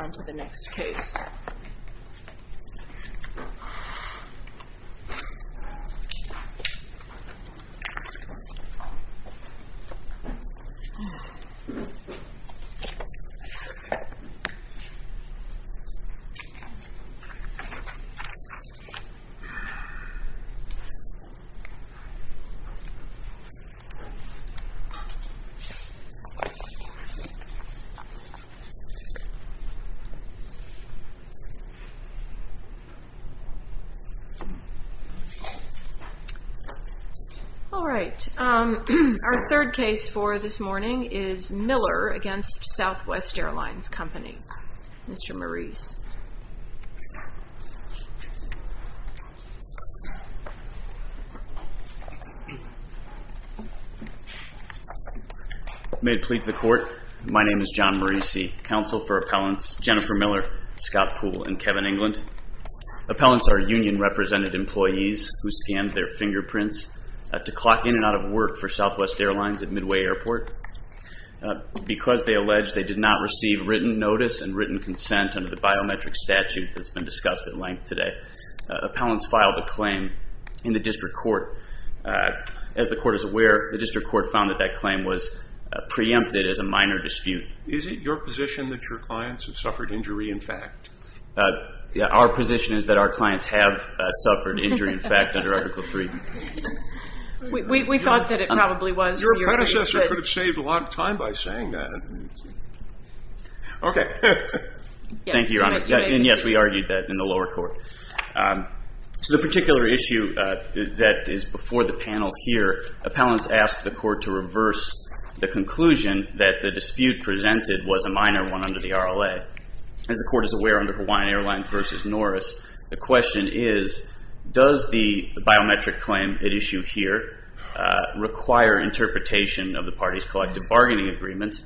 On to the next case. All right, our third case for this morning is Miller v. Southwest Airlines Company. Mr. Maurice. May it please the court, my name is John Maurice, counsel for appellants Jennifer Miller, Scott Poole, and Kevin England. Appellants are union represented employees who scanned their fingerprints to clock in and out of work for Southwest Airlines at Midway Airport. Because they allege they did not receive written notice and written consent under the biometric statute that's been discussed at length today, appellants filed a claim in the district court. As the court is aware, the district court found that that claim was preempted as a minor dispute. Is it your position that your clients have suffered injury in fact? Our position is that our clients have suffered injury in fact under Article III. We thought that it probably was. Your predecessor could have saved a lot of time by saying that. OK. Thank you, Your Honor. And yes, we argued that in the lower court. So the particular issue that is before the panel here, appellants asked the court to reverse the conclusion that the dispute presented was a minor one under the RLA. As the court is aware, under Hawaiian Airlines versus Norris, the question is, does the biometric claim at issue here require interpretation of the party's collective bargaining agreement?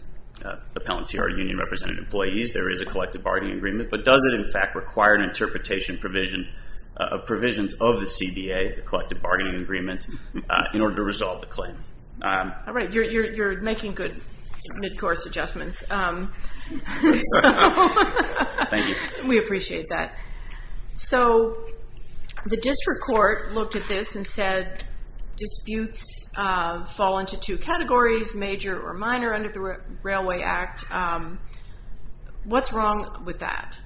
Appellants are union represented employees. There is a collective bargaining agreement. But does it in fact require an interpretation of provisions of the CBA, the collective bargaining agreement, in order to resolve the claim? All right. You're making good mid-course adjustments. Thank you. We appreciate that. So the district court looked at this and said disputes fall into two categories, major or minor, under the Railway Act. What's wrong with that?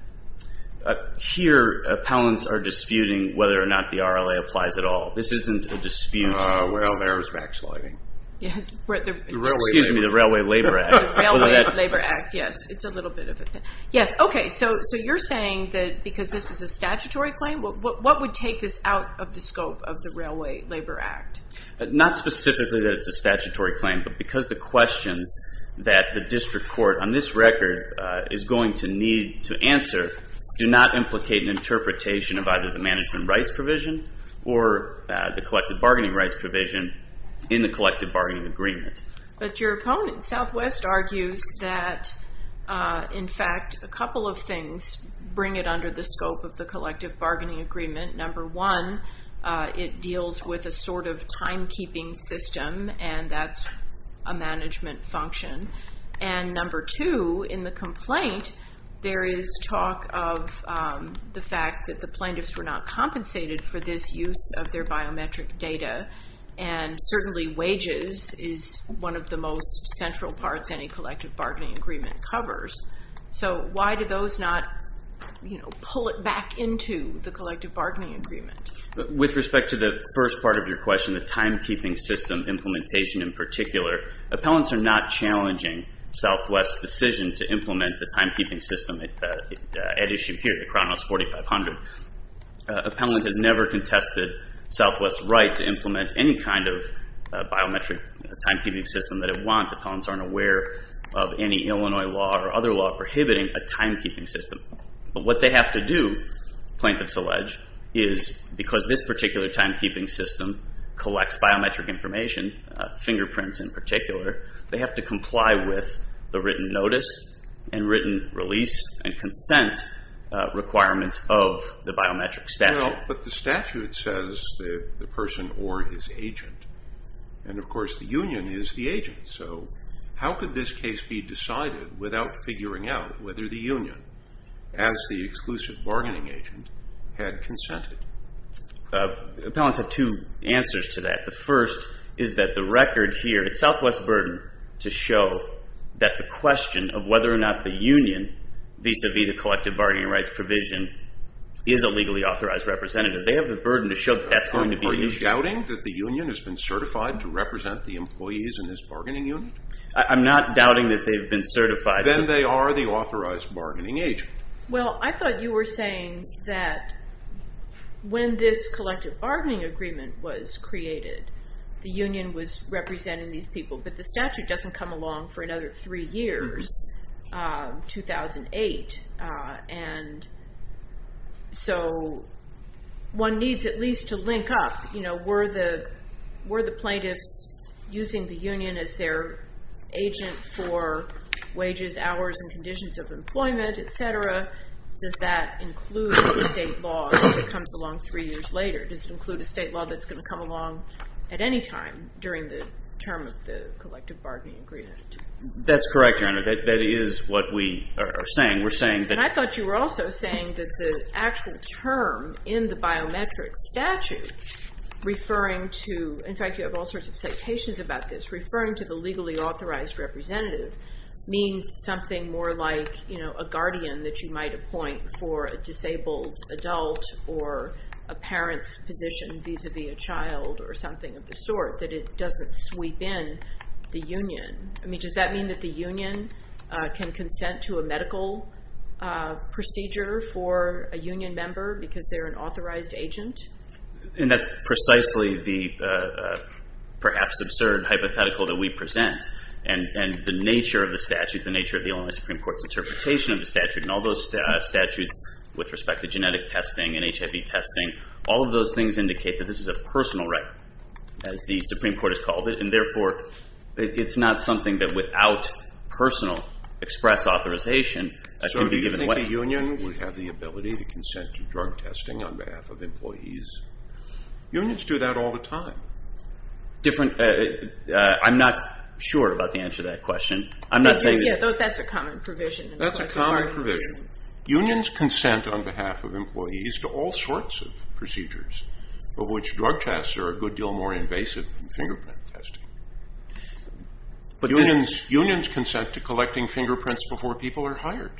Here, appellants are disputing whether or not the RLA applies at all. This isn't a dispute. Well, there's backsliding. Excuse me, the Railway Labor Act. The Railway Labor Act, yes. It's a little bit of a thing. Yes, okay. So you're saying that because this is a statutory claim, what would take this out of the scope of the Railway Labor Act? Not specifically that it's a statutory claim, but because the questions that the district court on this record is going to need to answer do not implicate an interpretation of either the management rights provision or the collective bargaining rights provision in the collective bargaining agreement. But your opponent, Southwest, argues that, in fact, a couple of things bring it under the scope of the collective bargaining agreement. Number one, it deals with a sort of timekeeping system, and that's a management function. And number two, in the complaint, there is talk of the fact that the plaintiffs were not compensated for this use of their biometric data, and certainly wages is one of the most central parts any collective bargaining agreement covers. So why do those not pull it back into the collective bargaining agreement? With respect to the first part of your question, the timekeeping system implementation in particular, appellants are not challenging Southwest's decision to implement the timekeeping system at issue here, the Kronos 4500. Appellant has never contested Southwest's right to implement any kind of biometric timekeeping system that it wants. Appellants aren't aware of any Illinois law or other law prohibiting a timekeeping system. But what they have to do, plaintiffs allege, is because this particular timekeeping system collects biometric information, fingerprints in particular, they have to comply with the written notice and written release and consent requirements of the biometric statute. Well, but the statute says the person or his agent. And, of course, the union is the agent. So how could this case be decided without figuring out whether the union, as the exclusive bargaining agent, had consented? Appellants have two answers to that. The first is that the record here, it's Southwest's burden to show that the question of whether or not the union, vis-a-vis the collective bargaining rights provision, is a legally authorized representative. They have the burden to show that that's going to be an issue. Are you doubting that the union has been certified to represent the employees in this bargaining union? I'm not doubting that they've been certified. Then they are the authorized bargaining agent. Well, I thought you were saying that when this collective bargaining agreement was created, the union was representing these people, but the statute doesn't come along for another three years, 2008. And so one needs at least to link up. Were the plaintiffs using the union as their agent for wages, hours, and conditions of employment, et cetera? Does that include the state law that comes along three years later? Does it include a state law that's going to come along at any time during the term of the collective bargaining agreement? That's correct, Your Honor. That is what we are saying. And I thought you were also saying that the actual term in the biometric statute referring to – in fact, you have all sorts of citations about this – referring to the legally authorized representative means something more like a guardian that you might appoint for a disabled adult or a parent's position vis-a-vis a child or something of the sort, that it doesn't sweep in the union. I mean, does that mean that the union can consent to a medical procedure for a union member because they're an authorized agent? And that's precisely the perhaps absurd hypothetical that we present. And the nature of the statute, the nature of the Illinois Supreme Court's interpretation of the statute, and all those statutes with respect to genetic testing and HIV testing, all of those things indicate that this is a personal right, as the Supreme Court has called it. And, therefore, it's not something that without personal express authorization can be given away. So do you think the union would have the ability to consent to drug testing on behalf of employees? Unions do that all the time. Different – I'm not sure about the answer to that question. I'm not saying – Yeah, that's a common provision in the collective bargaining agreement. That's a common provision. Unions consent on behalf of employees to all sorts of procedures, of which drug tests are a good deal more invasive than fingerprint testing. Unions consent to collecting fingerprints before people are hired.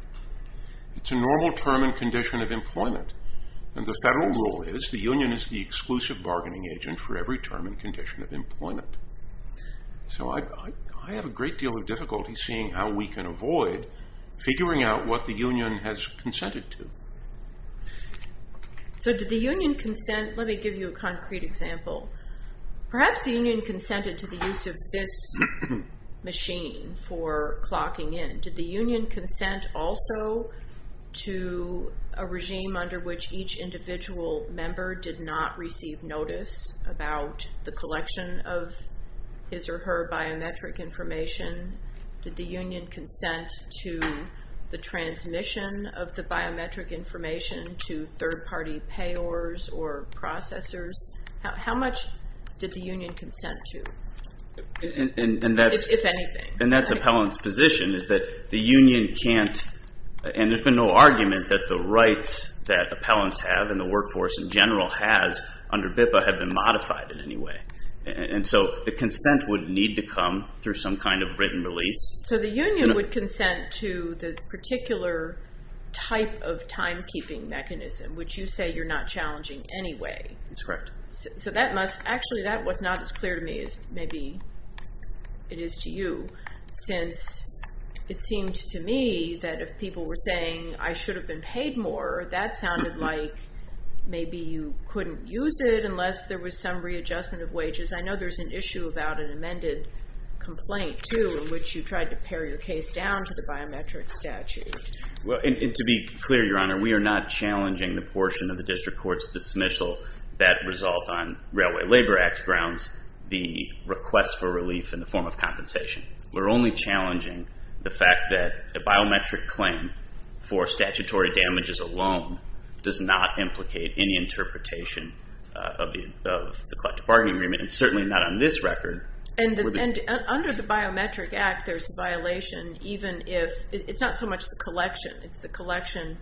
It's a normal term and condition of employment. And the federal rule is the union is the exclusive bargaining agent for every term and condition of employment. So I have a great deal of difficulty seeing how we can avoid figuring out what the union has consented to. So did the union consent – let me give you a concrete example. Perhaps the union consented to the use of this machine for clocking in. Did the union consent also to a regime under which each individual member did not receive notice about the collection of his or her biometric information? Did the union consent to the transmission of the biometric information to third-party payors or processors? How much did the union consent to, if anything? And that's appellant's position is that the union can't – and there's been no argument that the rights that appellants have and the workforce in general has under BIPA have been modified in any way. And so the consent would need to come through some kind of written release. So the union would consent to the particular type of timekeeping mechanism, which you say you're not challenging anyway. That's correct. So that must – actually, that was not as clear to me as maybe it is to you, since it seemed to me that if people were saying I should have been paid more, that sounded like maybe you couldn't use it unless there was some readjustment of wages. I know there's an issue about an amended complaint, too, in which you tried to pare your case down to the biometric statute. Well, and to be clear, Your Honor, we are not challenging the portion of the district court's dismissal that result on Railway Labor Act grounds, the request for relief in the form of compensation. We're only challenging the fact that a biometric claim for statutory damages alone does not implicate any interpretation of the collective bargaining agreement, and certainly not on this record. And under the Biometric Act, there's a violation even if – it's not so much the collection. It's the collection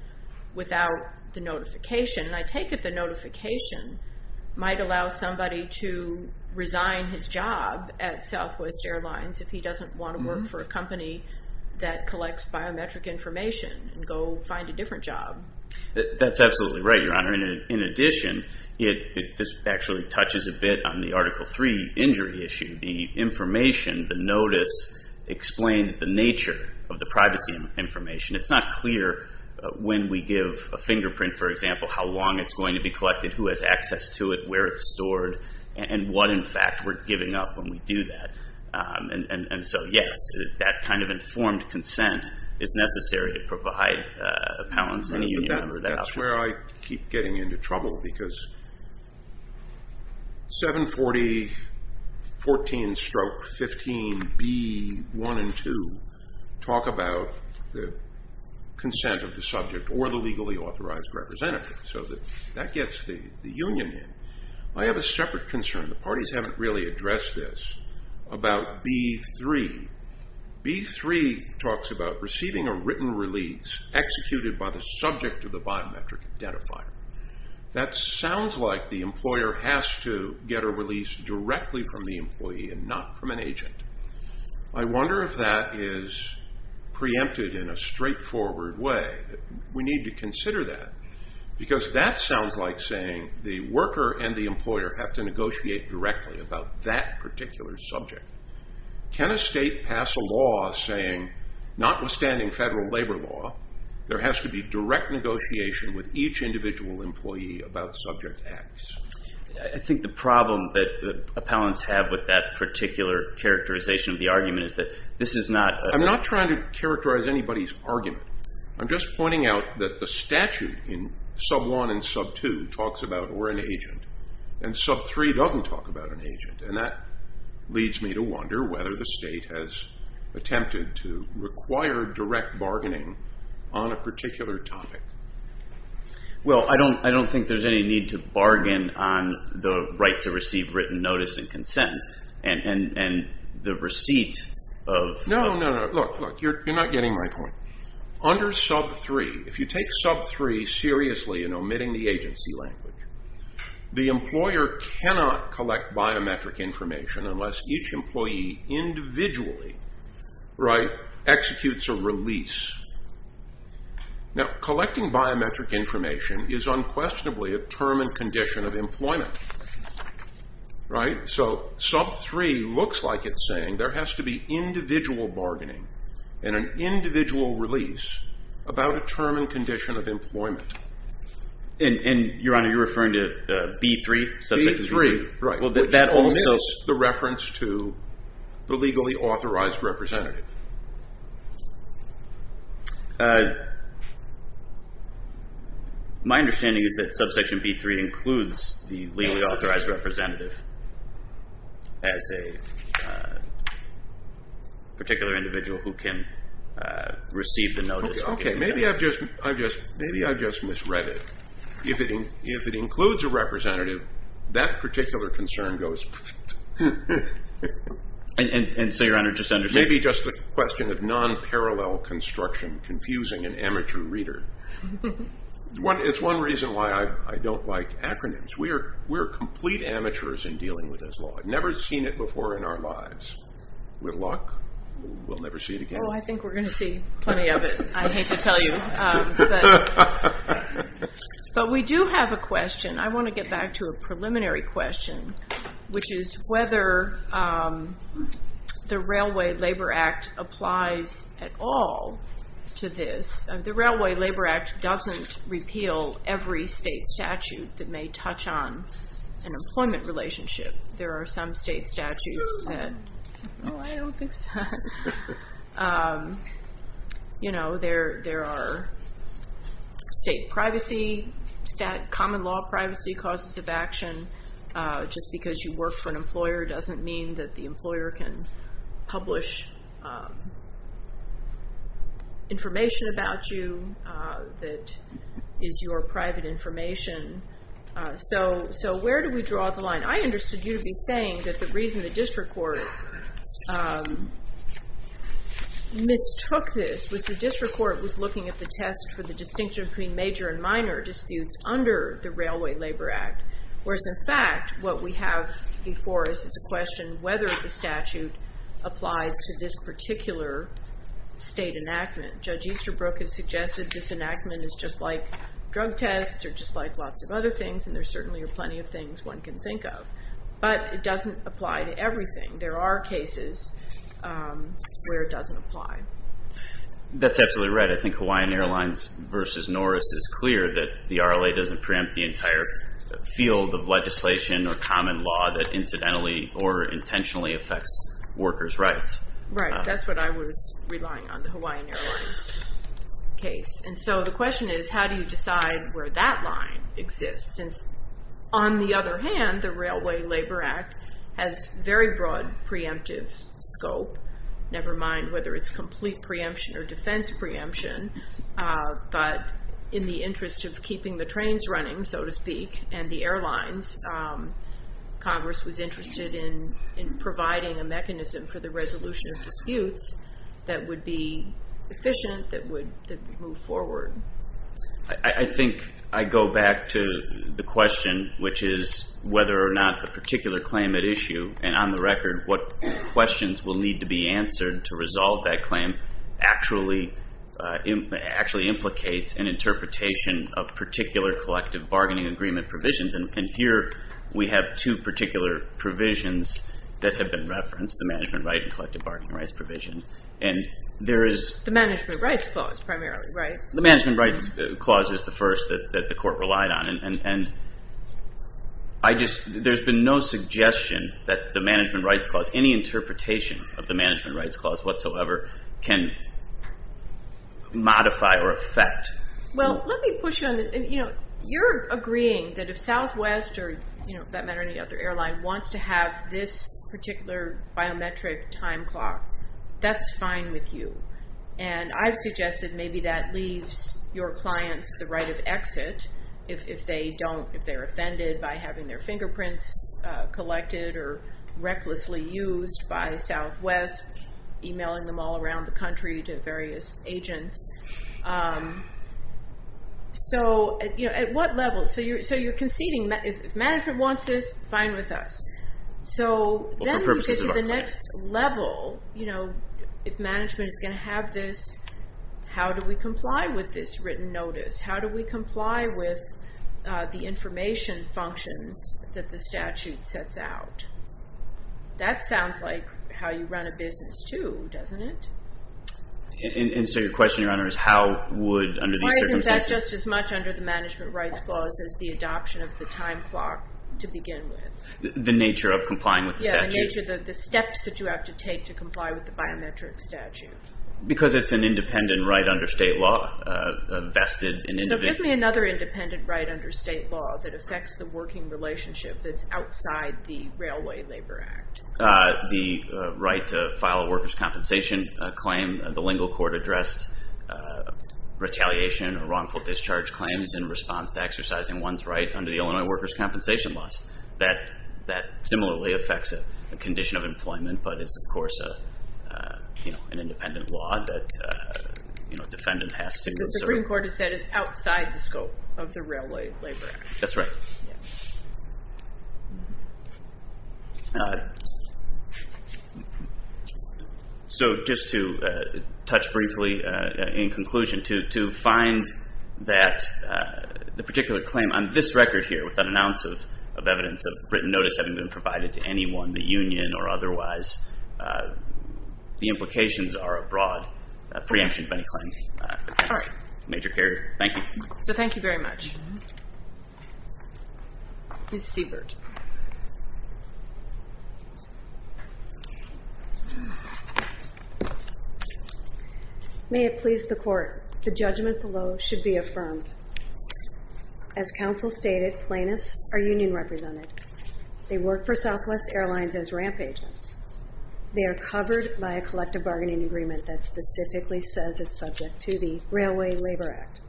without the notification. And I take it the notification might allow somebody to resign his job at Southwest Airlines if he doesn't want to work for a company that collects biometric information and go find a different job. That's absolutely right, Your Honor. In addition, this actually touches a bit on the Article III injury issue. The information, the notice, explains the nature of the privacy information. It's not clear when we give a fingerprint, for example, how long it's going to be collected, who has access to it, where it's stored, and what, in fact, we're giving up when we do that. And so, yes, that kind of informed consent is necessary to provide appellants, any union member, that option. That's where I keep getting into trouble because 740.14-15b.1 and 2 talk about the consent of the subject or the legally authorized representative. So that gets the union in. I have a separate concern. The parties haven't really addressed this about B.3. B.3 talks about receiving a written release executed by the subject of the biometric identifier. That sounds like the employer has to get a release directly from the employee and not from an agent. I wonder if that is preempted in a straightforward way. We need to consider that because that sounds like saying the worker and the employer have to negotiate directly about that particular subject. Can a state pass a law saying, notwithstanding federal labor law, there has to be direct negotiation with each individual employee about subject acts? I think the problem that appellants have with that particular characterization of the argument is that this is not a I'm not trying to characterize anybody's argument. I'm just pointing out that the statute in sub 1 and sub 2 talks about we're an agent. Sub 3 doesn't talk about an agent. That leads me to wonder whether the state has attempted to require direct bargaining on a particular topic. I don't think there's any need to bargain on the right to receive written notice and consent. No, you're not getting my point. Under sub 3, if you take sub 3 seriously in omitting the agency language, the employer cannot collect biometric information unless each employee individually executes a release. Collecting biometric information is unquestionably a term and condition of employment. Right? So sub 3 looks like it's saying there has to be individual bargaining and an individual release about a term and condition of employment. And, Your Honor, you're referring to B3? B3, right. Which only is the reference to the legally authorized representative. My understanding is that subsection B3 includes the legally authorized representative as a particular individual who can receive the notice. Okay. Maybe I've just misread it. If it includes a representative, that particular concern goes. And so, Your Honor, just to understand. It may be just a question of non-parallel construction confusing an amateur reader. It's one reason why I don't like acronyms. We're complete amateurs in dealing with this law. I've never seen it before in our lives. With luck, we'll never see it again. Oh, I think we're going to see plenty of it, I hate to tell you. But we do have a question. I want to get back to a preliminary question, which is whether the Railway Labor Act applies at all to this. The Railway Labor Act doesn't repeal every state statute that may touch on an employment relationship. There are some state statutes that, oh, I don't think so. You know, there are state privacy, common law privacy causes of action. Just because you work for an employer doesn't mean that the employer can publish information about you that is your private information. And I understood you to be saying that the reason the district court mistook this was the district court was looking at the test for the distinction between major and minor disputes under the Railway Labor Act. Whereas, in fact, what we have before us is a question whether the statute applies to this particular state enactment. Judge Easterbrook has suggested this enactment is just like drug tests or just like lots of other things, and there certainly are plenty of things one can think of. But it doesn't apply to everything. There are cases where it doesn't apply. That's absolutely right. I think Hawaiian Airlines versus Norris is clear that the RLA doesn't preempt the entire field of legislation or common law that incidentally or intentionally affects workers' rights. Right. That's what I was relying on, the Hawaiian Airlines case. And so the question is, how do you decide where that line exists? Since, on the other hand, the Railway Labor Act has very broad preemptive scope, never mind whether it's complete preemption or defense preemption, but in the interest of keeping the trains running, so to speak, and the airlines, Congress was interested in providing a mechanism for the resolution of disputes that would be efficient, that would move forward. I think I go back to the question, which is whether or not the particular claim at issue, and on the record what questions will need to be answered to resolve that claim, actually implicates an interpretation of particular collective bargaining agreement provisions. And here we have two particular provisions that have been referenced, the management right and collective bargaining rights provision. The management rights clause primarily, right? The management rights clause is the first that the court relied on, and there's been no suggestion that the management rights clause, any interpretation of the management rights clause whatsoever, can modify or affect. Well, let me push you on this. You're agreeing that if Southwest, or that matter any other airline, wants to have this particular biometric time clock, that's fine with you. And I've suggested maybe that leaves your clients the right of exit if they don't, if they're offended by having their fingerprints collected or recklessly used by Southwest, emailing them all around the country to various agents. So at what level? So you're conceding that if management wants this, fine with us. So then you get to the next level, if management is going to have this, how do we comply with this written notice? How do we comply with the information functions that the statute sets out? That sounds like how you run a business too, doesn't it? And so your question, Your Honor, is how would under these circumstances? Why isn't that just as much under the management rights clause as the adoption of the time clock to begin with? The nature of complying with the statute? Yeah, the nature of the steps that you have to take to comply with the biometric statute. Because it's an independent right under state law vested in individuals. So give me another independent right under state law that affects the working relationship that's outside the Railway Labor Act. The right to file a workers' compensation claim. The lingual court addressed retaliation or wrongful discharge claims in response to exercising one's right under the Illinois workers' compensation laws. That similarly affects a condition of employment, but is, of course, an independent law that a defendant has to observe. The Supreme Court has said it's outside the scope of the Railway Labor Act. That's right. Yeah. So just to touch briefly in conclusion, to find that the particular claim on this record here without an ounce of evidence of written notice having been provided to anyone, the union or otherwise, the implications are abroad, a preemption of any claim against a major carrier. Thank you. So thank you very much. Ms. Siebert. May it please the Court, the judgment below should be affirmed. As counsel stated, plaintiffs are union represented. They work for Southwest Airlines as ramp agents. They are covered by a collective bargaining agreement that specifically says it's subject to the Railway Labor Act.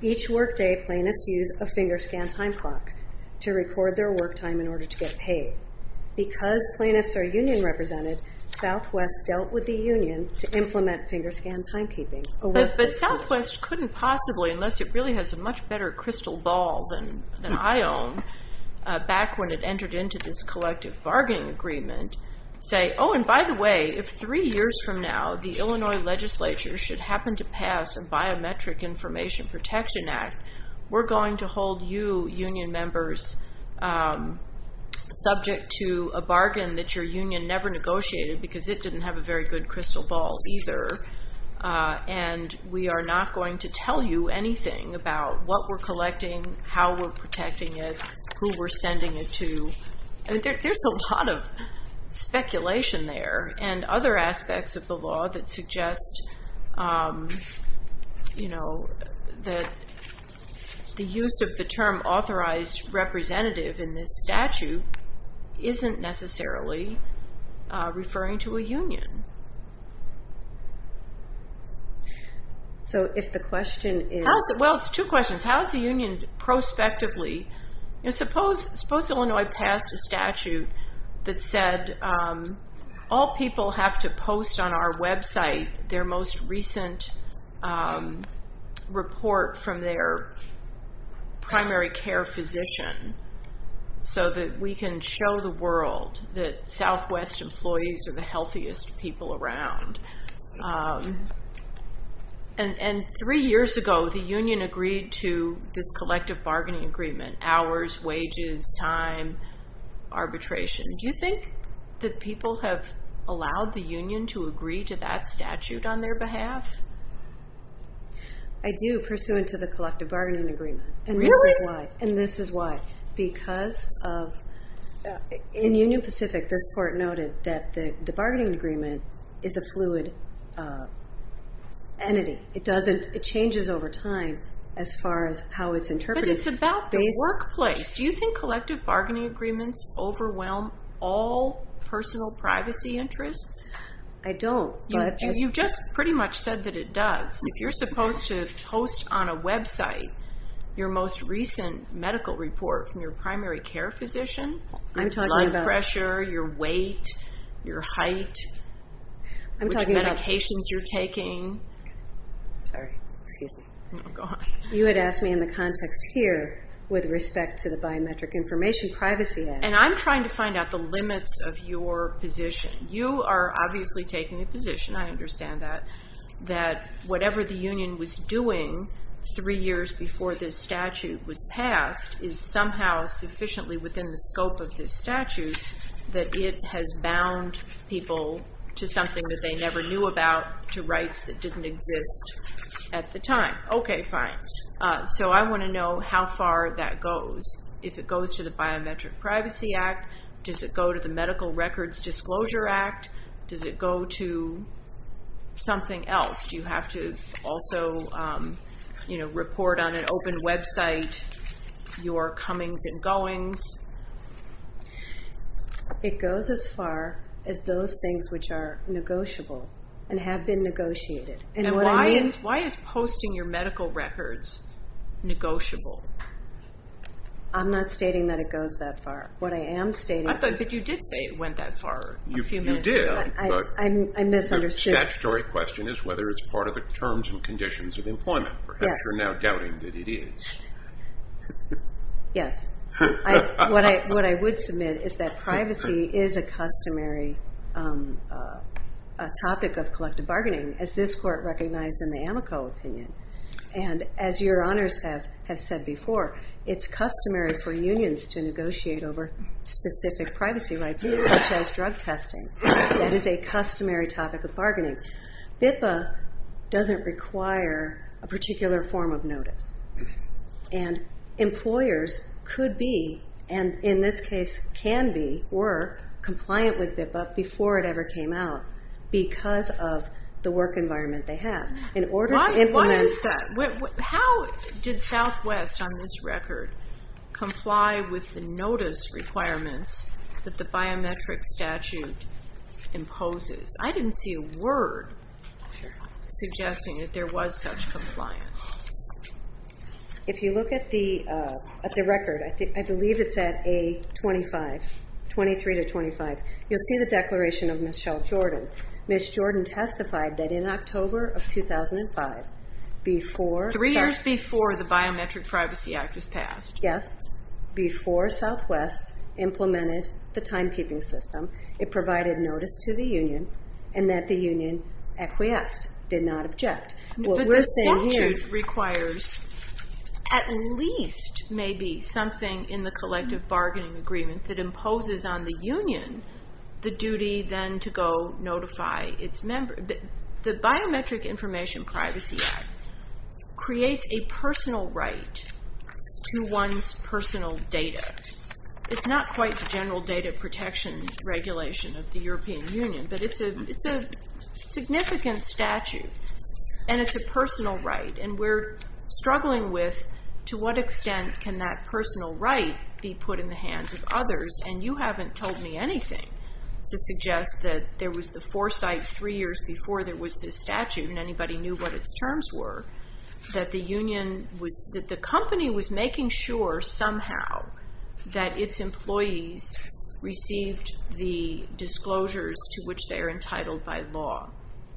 Each workday, plaintiffs use a finger scan time clock to record their work time in order to get paid. Because plaintiffs are union represented, Southwest dealt with the union to implement finger scan timekeeping. But Southwest couldn't possibly, unless it really has a much better crystal ball than I own, back when it entered into this collective bargaining agreement, say, oh, and by the way, if three years from now the Illinois legislature should happen to pass a biometric information protection act, we're going to hold you union members subject to a bargain that your union never negotiated because it didn't have a very good crystal ball either. And we are not going to tell you anything about what we're collecting, how we're protecting it, who we're sending it to. There's a lot of speculation there and other aspects of the law that suggest that the use of the term authorized representative in this statute isn't necessarily referring to a union. So if the question is... Well, it's two questions. How is the union prospectively... Suppose Illinois passed a statute that said all people have to post on our website their most recent report from their primary care physician so that we can show the world that Southwest employees are the healthiest people around. And three years ago the union agreed to this collective bargaining agreement, hours, wages, time, arbitration. Do you think that people have allowed the union to agree to that statute on their behalf? I do, pursuant to the collective bargaining agreement. Really? And this is why. Because in Union Pacific this court noted that the bargaining agreement is a fluid entity. It changes over time as far as how it's interpreted. But it's about the workplace. Do you think collective bargaining agreements overwhelm all personal privacy interests? I don't, but... You've just pretty much said that it does. If you're supposed to post on a website your most recent medical report from your primary care physician, your blood pressure, your weight, your height, Sorry, excuse me. Oh, go on. You had asked me in the context here with respect to the Biometric Information Privacy Act. And I'm trying to find out the limits of your position. You are obviously taking the position, I understand that, that whatever the union was doing three years before this statute was passed is somehow sufficiently within the scope of this statute that it has bound people to something that they never knew about, to rights that didn't exist at the time. Okay, fine. So I want to know how far that goes. If it goes to the Biometric Privacy Act, does it go to the Medical Records Disclosure Act, does it go to something else? Do you have to also report on an open website your comings and goings? It goes as far as those things which are negotiable and have been negotiated. And why is posting your medical records negotiable? I'm not stating that it goes that far. What I am stating... But you did say it went that far a few minutes ago. You did, but the statutory question is whether it's part of the terms and conditions of employment. Perhaps you're now doubting that it is. Yes. What I would submit is that privacy is a customary topic of collective bargaining. As this court recognized in the Amico opinion. And as your honors have said before, it's customary for unions to negotiate over specific privacy rights, such as drug testing. That is a customary topic of bargaining. BIPA doesn't require a particular form of notice. And employers could be, and in this case can be, were compliant with BIPA before it ever came out because of the work environment they have. In order to implement that... How did Southwest, on this record, comply with the notice requirements that the biometric statute imposes? I didn't see a word suggesting that there was such compliance. If you look at the record, I believe it's at A23-25, you'll see the declaration of Michelle Jordan. Miss Jordan testified that in October of 2005, before... Three years before the Biometric Privacy Act was passed. Yes. Before Southwest implemented the timekeeping system, it provided notice to the union and that the union acquiesced, did not object. But the statute requires at least maybe something in the collective bargaining agreement that imposes on the union the duty then to go notify its members. The Biometric Information Privacy Act creates a personal right to one's personal data. It's not quite the general data protection regulation of the European Union, but it's a significant statute and it's a personal right. And we're struggling with to what extent can that personal right be put in the hands of others, and you haven't told me anything to suggest that there was the foresight three years before there was this statute and anybody knew what its terms were, that the company was making sure somehow that its employees received the disclosures to which they are entitled by law.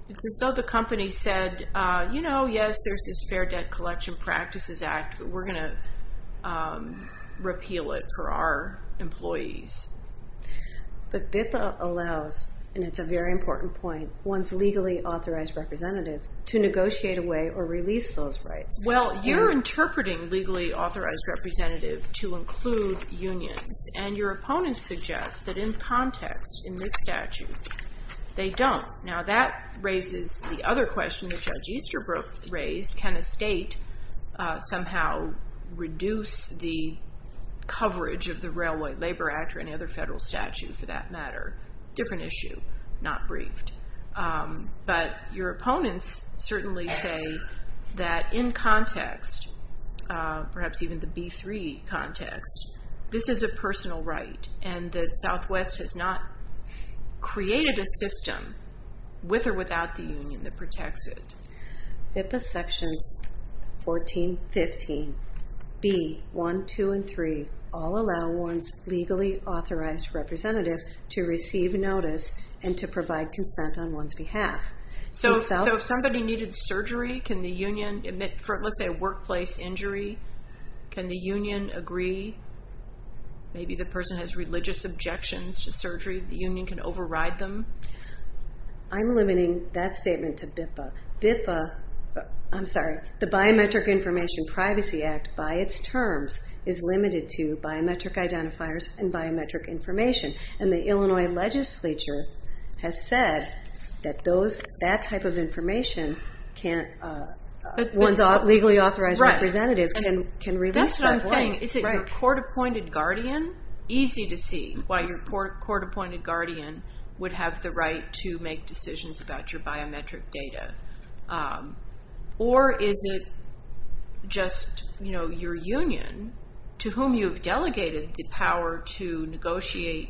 It's as though the company said, you know, yes, there's this Fair Debt Collection Practices Act, we're going to repeal it for our employees. But BIPA allows, and it's a very important point, one's legally authorized representative to negotiate away or release those rights. Well, you're interpreting legally authorized representative to include unions, and your opponent suggests that in context, in this statute, they don't. Now that raises the other question that Judge Easterbrook raised, can a state somehow reduce the coverage of the Railway Labor Act or any other federal statute for that matter? Different issue, not briefed. But your opponents certainly say that in context, perhaps even the B3 context, this is a personal right and that Southwest has not created a system with or without the union that protects it. BIPA sections 14, 15, B1, 2, and 3 all allow one's legally authorized representative to receive notice and to provide consent on one's behalf. So if somebody needed surgery, can the union, let's say a workplace injury, can the union agree? Maybe the person has religious objections to surgery, the union can override them? I'm limiting that statement to BIPA. I'm sorry, the Biometric Information Privacy Act, by its terms, is limited to biometric identifiers and biometric information. And the Illinois legislature has said that that type of information one's legally authorized representative can release. That's what I'm saying. Is it your court-appointed guardian? Easy to see why your court-appointed guardian would have the right to make decisions about your biometric data. Or is it just your union to whom you've delegated the power to negotiate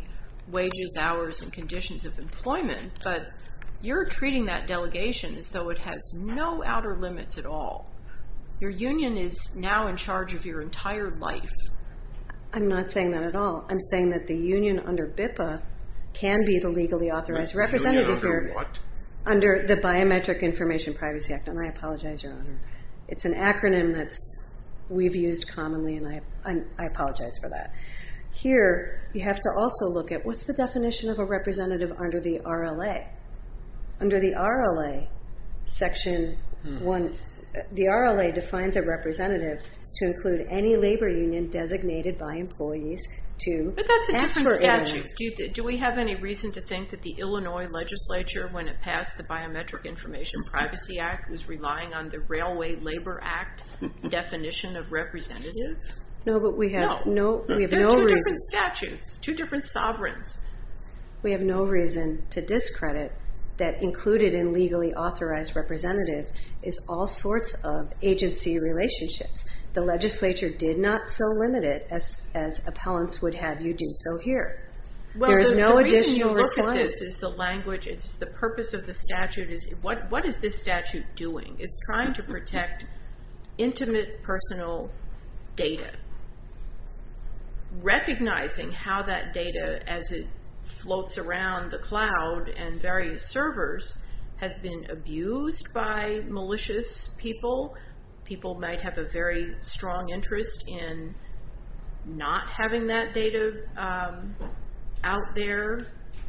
wages, hours, and conditions of employment, but you're treating that delegation as though it has no outer limits at all. Your union is now in charge of your entire life. I'm not saying that at all. I'm saying that the union under BIPA can be the legally authorized representative. The union under what? Under the Biometric Information Privacy Act, and I apologize, Your Honor. It's an acronym that we've used commonly, and I apologize for that. Here you have to also look at what's the definition of a representative under the RLA. Under the RLA, Section 1, the RLA defines a representative to include any labor union designated by employees to act for Illinois. But that's a different statute. Do we have any reason to think that the Illinois legislature, when it passed the Biometric Information Privacy Act, was relying on the Railway Labor Act definition of representative? No, but we have no reason. No, they're two different statutes, two different sovereigns. We have no reason to discredit that included in legally authorized representative is all sorts of agency relationships. The legislature did not so limit it as appellants would have you do. So here, there is no additional requirement. The reason you look at this is the language, it's the purpose of the statute. What is this statute doing? It's trying to protect intimate personal data. Recognizing how that data, as it floats around the cloud and various servers, has been abused by malicious people. People might have a very strong interest in not having that data out there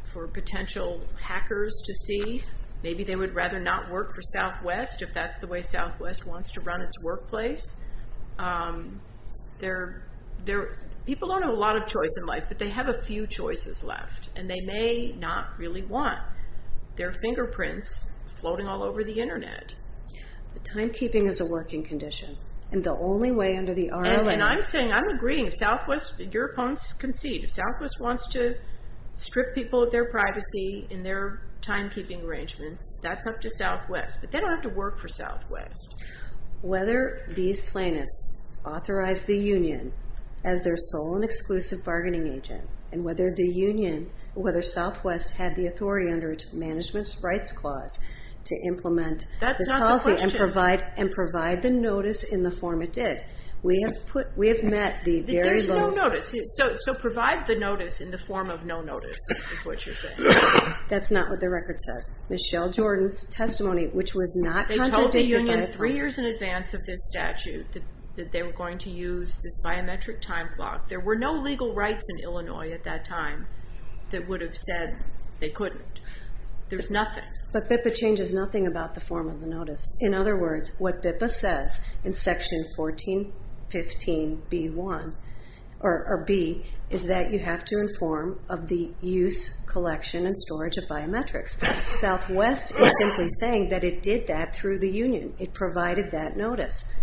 for potential hackers to see. Maybe they would rather not work for Southwest, if that's the way Southwest wants to run its workplace. People don't have a lot of choice in life, but they have a few choices left, and they may not really want. They're fingerprints floating all over the Internet. But timekeeping is a working condition, and the only way under the RLM. And I'm saying, I'm agreeing, if Southwest, your opponents concede, if Southwest wants to strip people of their privacy in their timekeeping arrangements, that's up to Southwest. But they don't have to work for Southwest. Whether these plaintiffs authorize the union as their sole and exclusive bargaining agent, and whether Southwest had the authority under its Management Rights Clause to implement this policy and provide the notice in the form it did. There's no notice. So provide the notice in the form of no notice, is what you're saying. That's not what the record says. Michelle Jordan's testimony, which was not contradicted by a threat. They told the union three years in advance of this statute that they were going to use this biometric time block. There were no legal rights in Illinois at that time that would have said they couldn't. There's nothing. But BIPA changes nothing about the form of the notice. In other words, what BIPA says in Section 1415B1, or B, is that you have to inform of the use, collection, and storage of biometrics. Southwest is simply saying that it did that through the union. It provided that notice.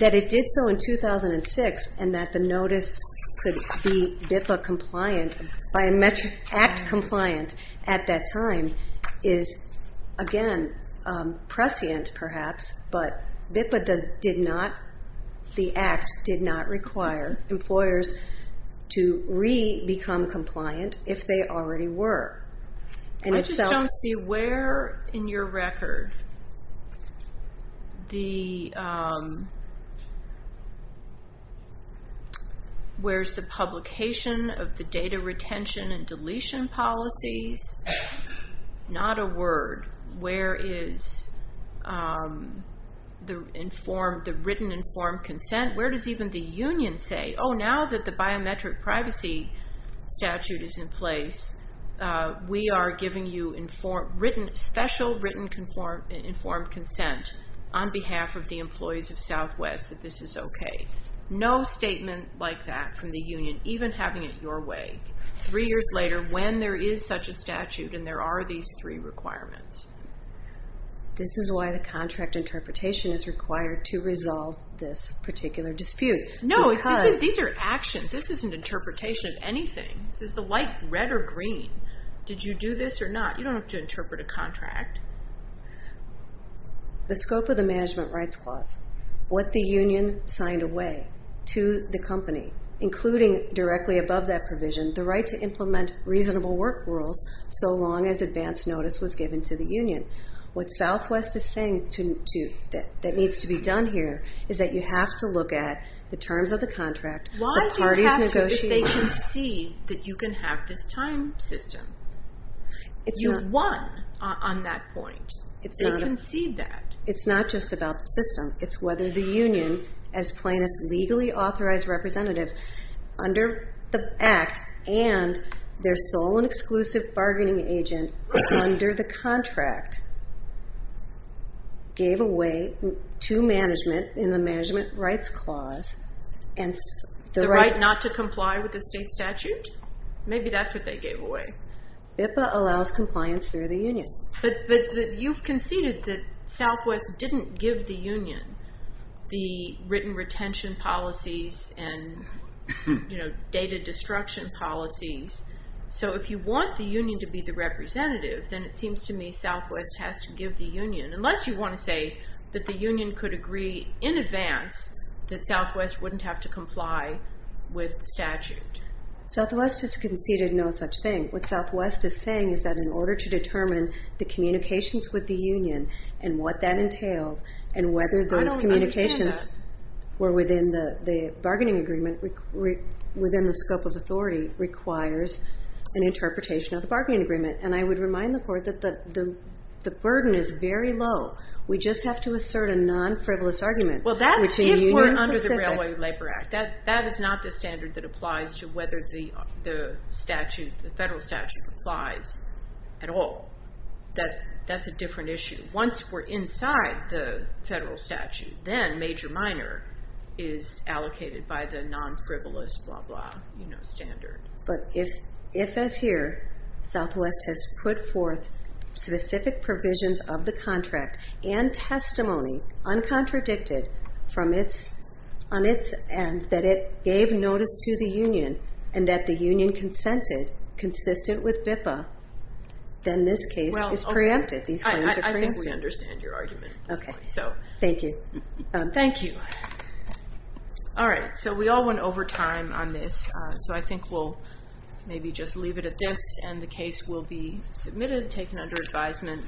That it did so in 2006, and that the notice could be BIPA compliant, biometric act compliant at that time, is, again, prescient perhaps, but BIPA did not, the act did not require employers to re-become compliant if they already were. I just don't see where in your record the publication of the data retention and deletion policies. Not a word. Where is the written informed consent? Where does even the union say, oh, now that the biometric privacy statute is in place, we are giving you special written informed consent on behalf of the employees of Southwest that this is okay. No statement like that from the union, even having it your way, three years later when there is such a statute and there are these three requirements. This is why the contract interpretation is required to resolve this particular dispute. No, these are actions. This isn't interpretation of anything. This is the light red or green. Did you do this or not? You don't have to interpret a contract. The scope of the management rights clause. What the union signed away to the company, including directly above that provision, the right to implement reasonable work rules so long as advance notice was given to the union. What Southwest is saying that needs to be done here is that you have to look at the terms of the contract. Why do you have to if they can see that you can have this time system? You've won on that point. They can see that. It's not just about the system. It's whether the union, as plaintiff's legally authorized representative, under the act and their sole and exclusive bargaining agent under the contract, gave away to management in the management rights clause. The right not to comply with the state statute? Maybe that's what they gave away. BIPA allows compliance through the union. You've conceded that Southwest didn't give the union the written retention policies and data destruction policies. So if you want the union to be the representative, then it seems to me Southwest has to give the union, unless you want to say that the union could agree in advance that Southwest wouldn't have to comply with the statute. Southwest has conceded no such thing. What Southwest is saying is that in order to determine the communications with the union and what that entailed and whether those communications were within the bargaining agreement, within the scope of authority, requires an interpretation of the bargaining agreement. And I would remind the Court that the burden is very low. We just have to assert a non-frivolous argument. Well, that's if we're under the Railway Labor Act. That is not the standard that applies to whether the federal statute applies at all. That's a different issue. Once we're inside the federal statute, then major-minor is allocated by the non-frivolous standard. But if, as here, Southwest has put forth specific provisions of the contract and testimony uncontradicted on its end that it gave notice to the union and that the union consented consistent with BIPA, then this case is preempted. These claims are preempted. I think we understand your argument at this point. Thank you. Thank you. All right. So we all went over time on this, so I think we'll maybe just leave it at this. And the case will be submitted, taken under advisement.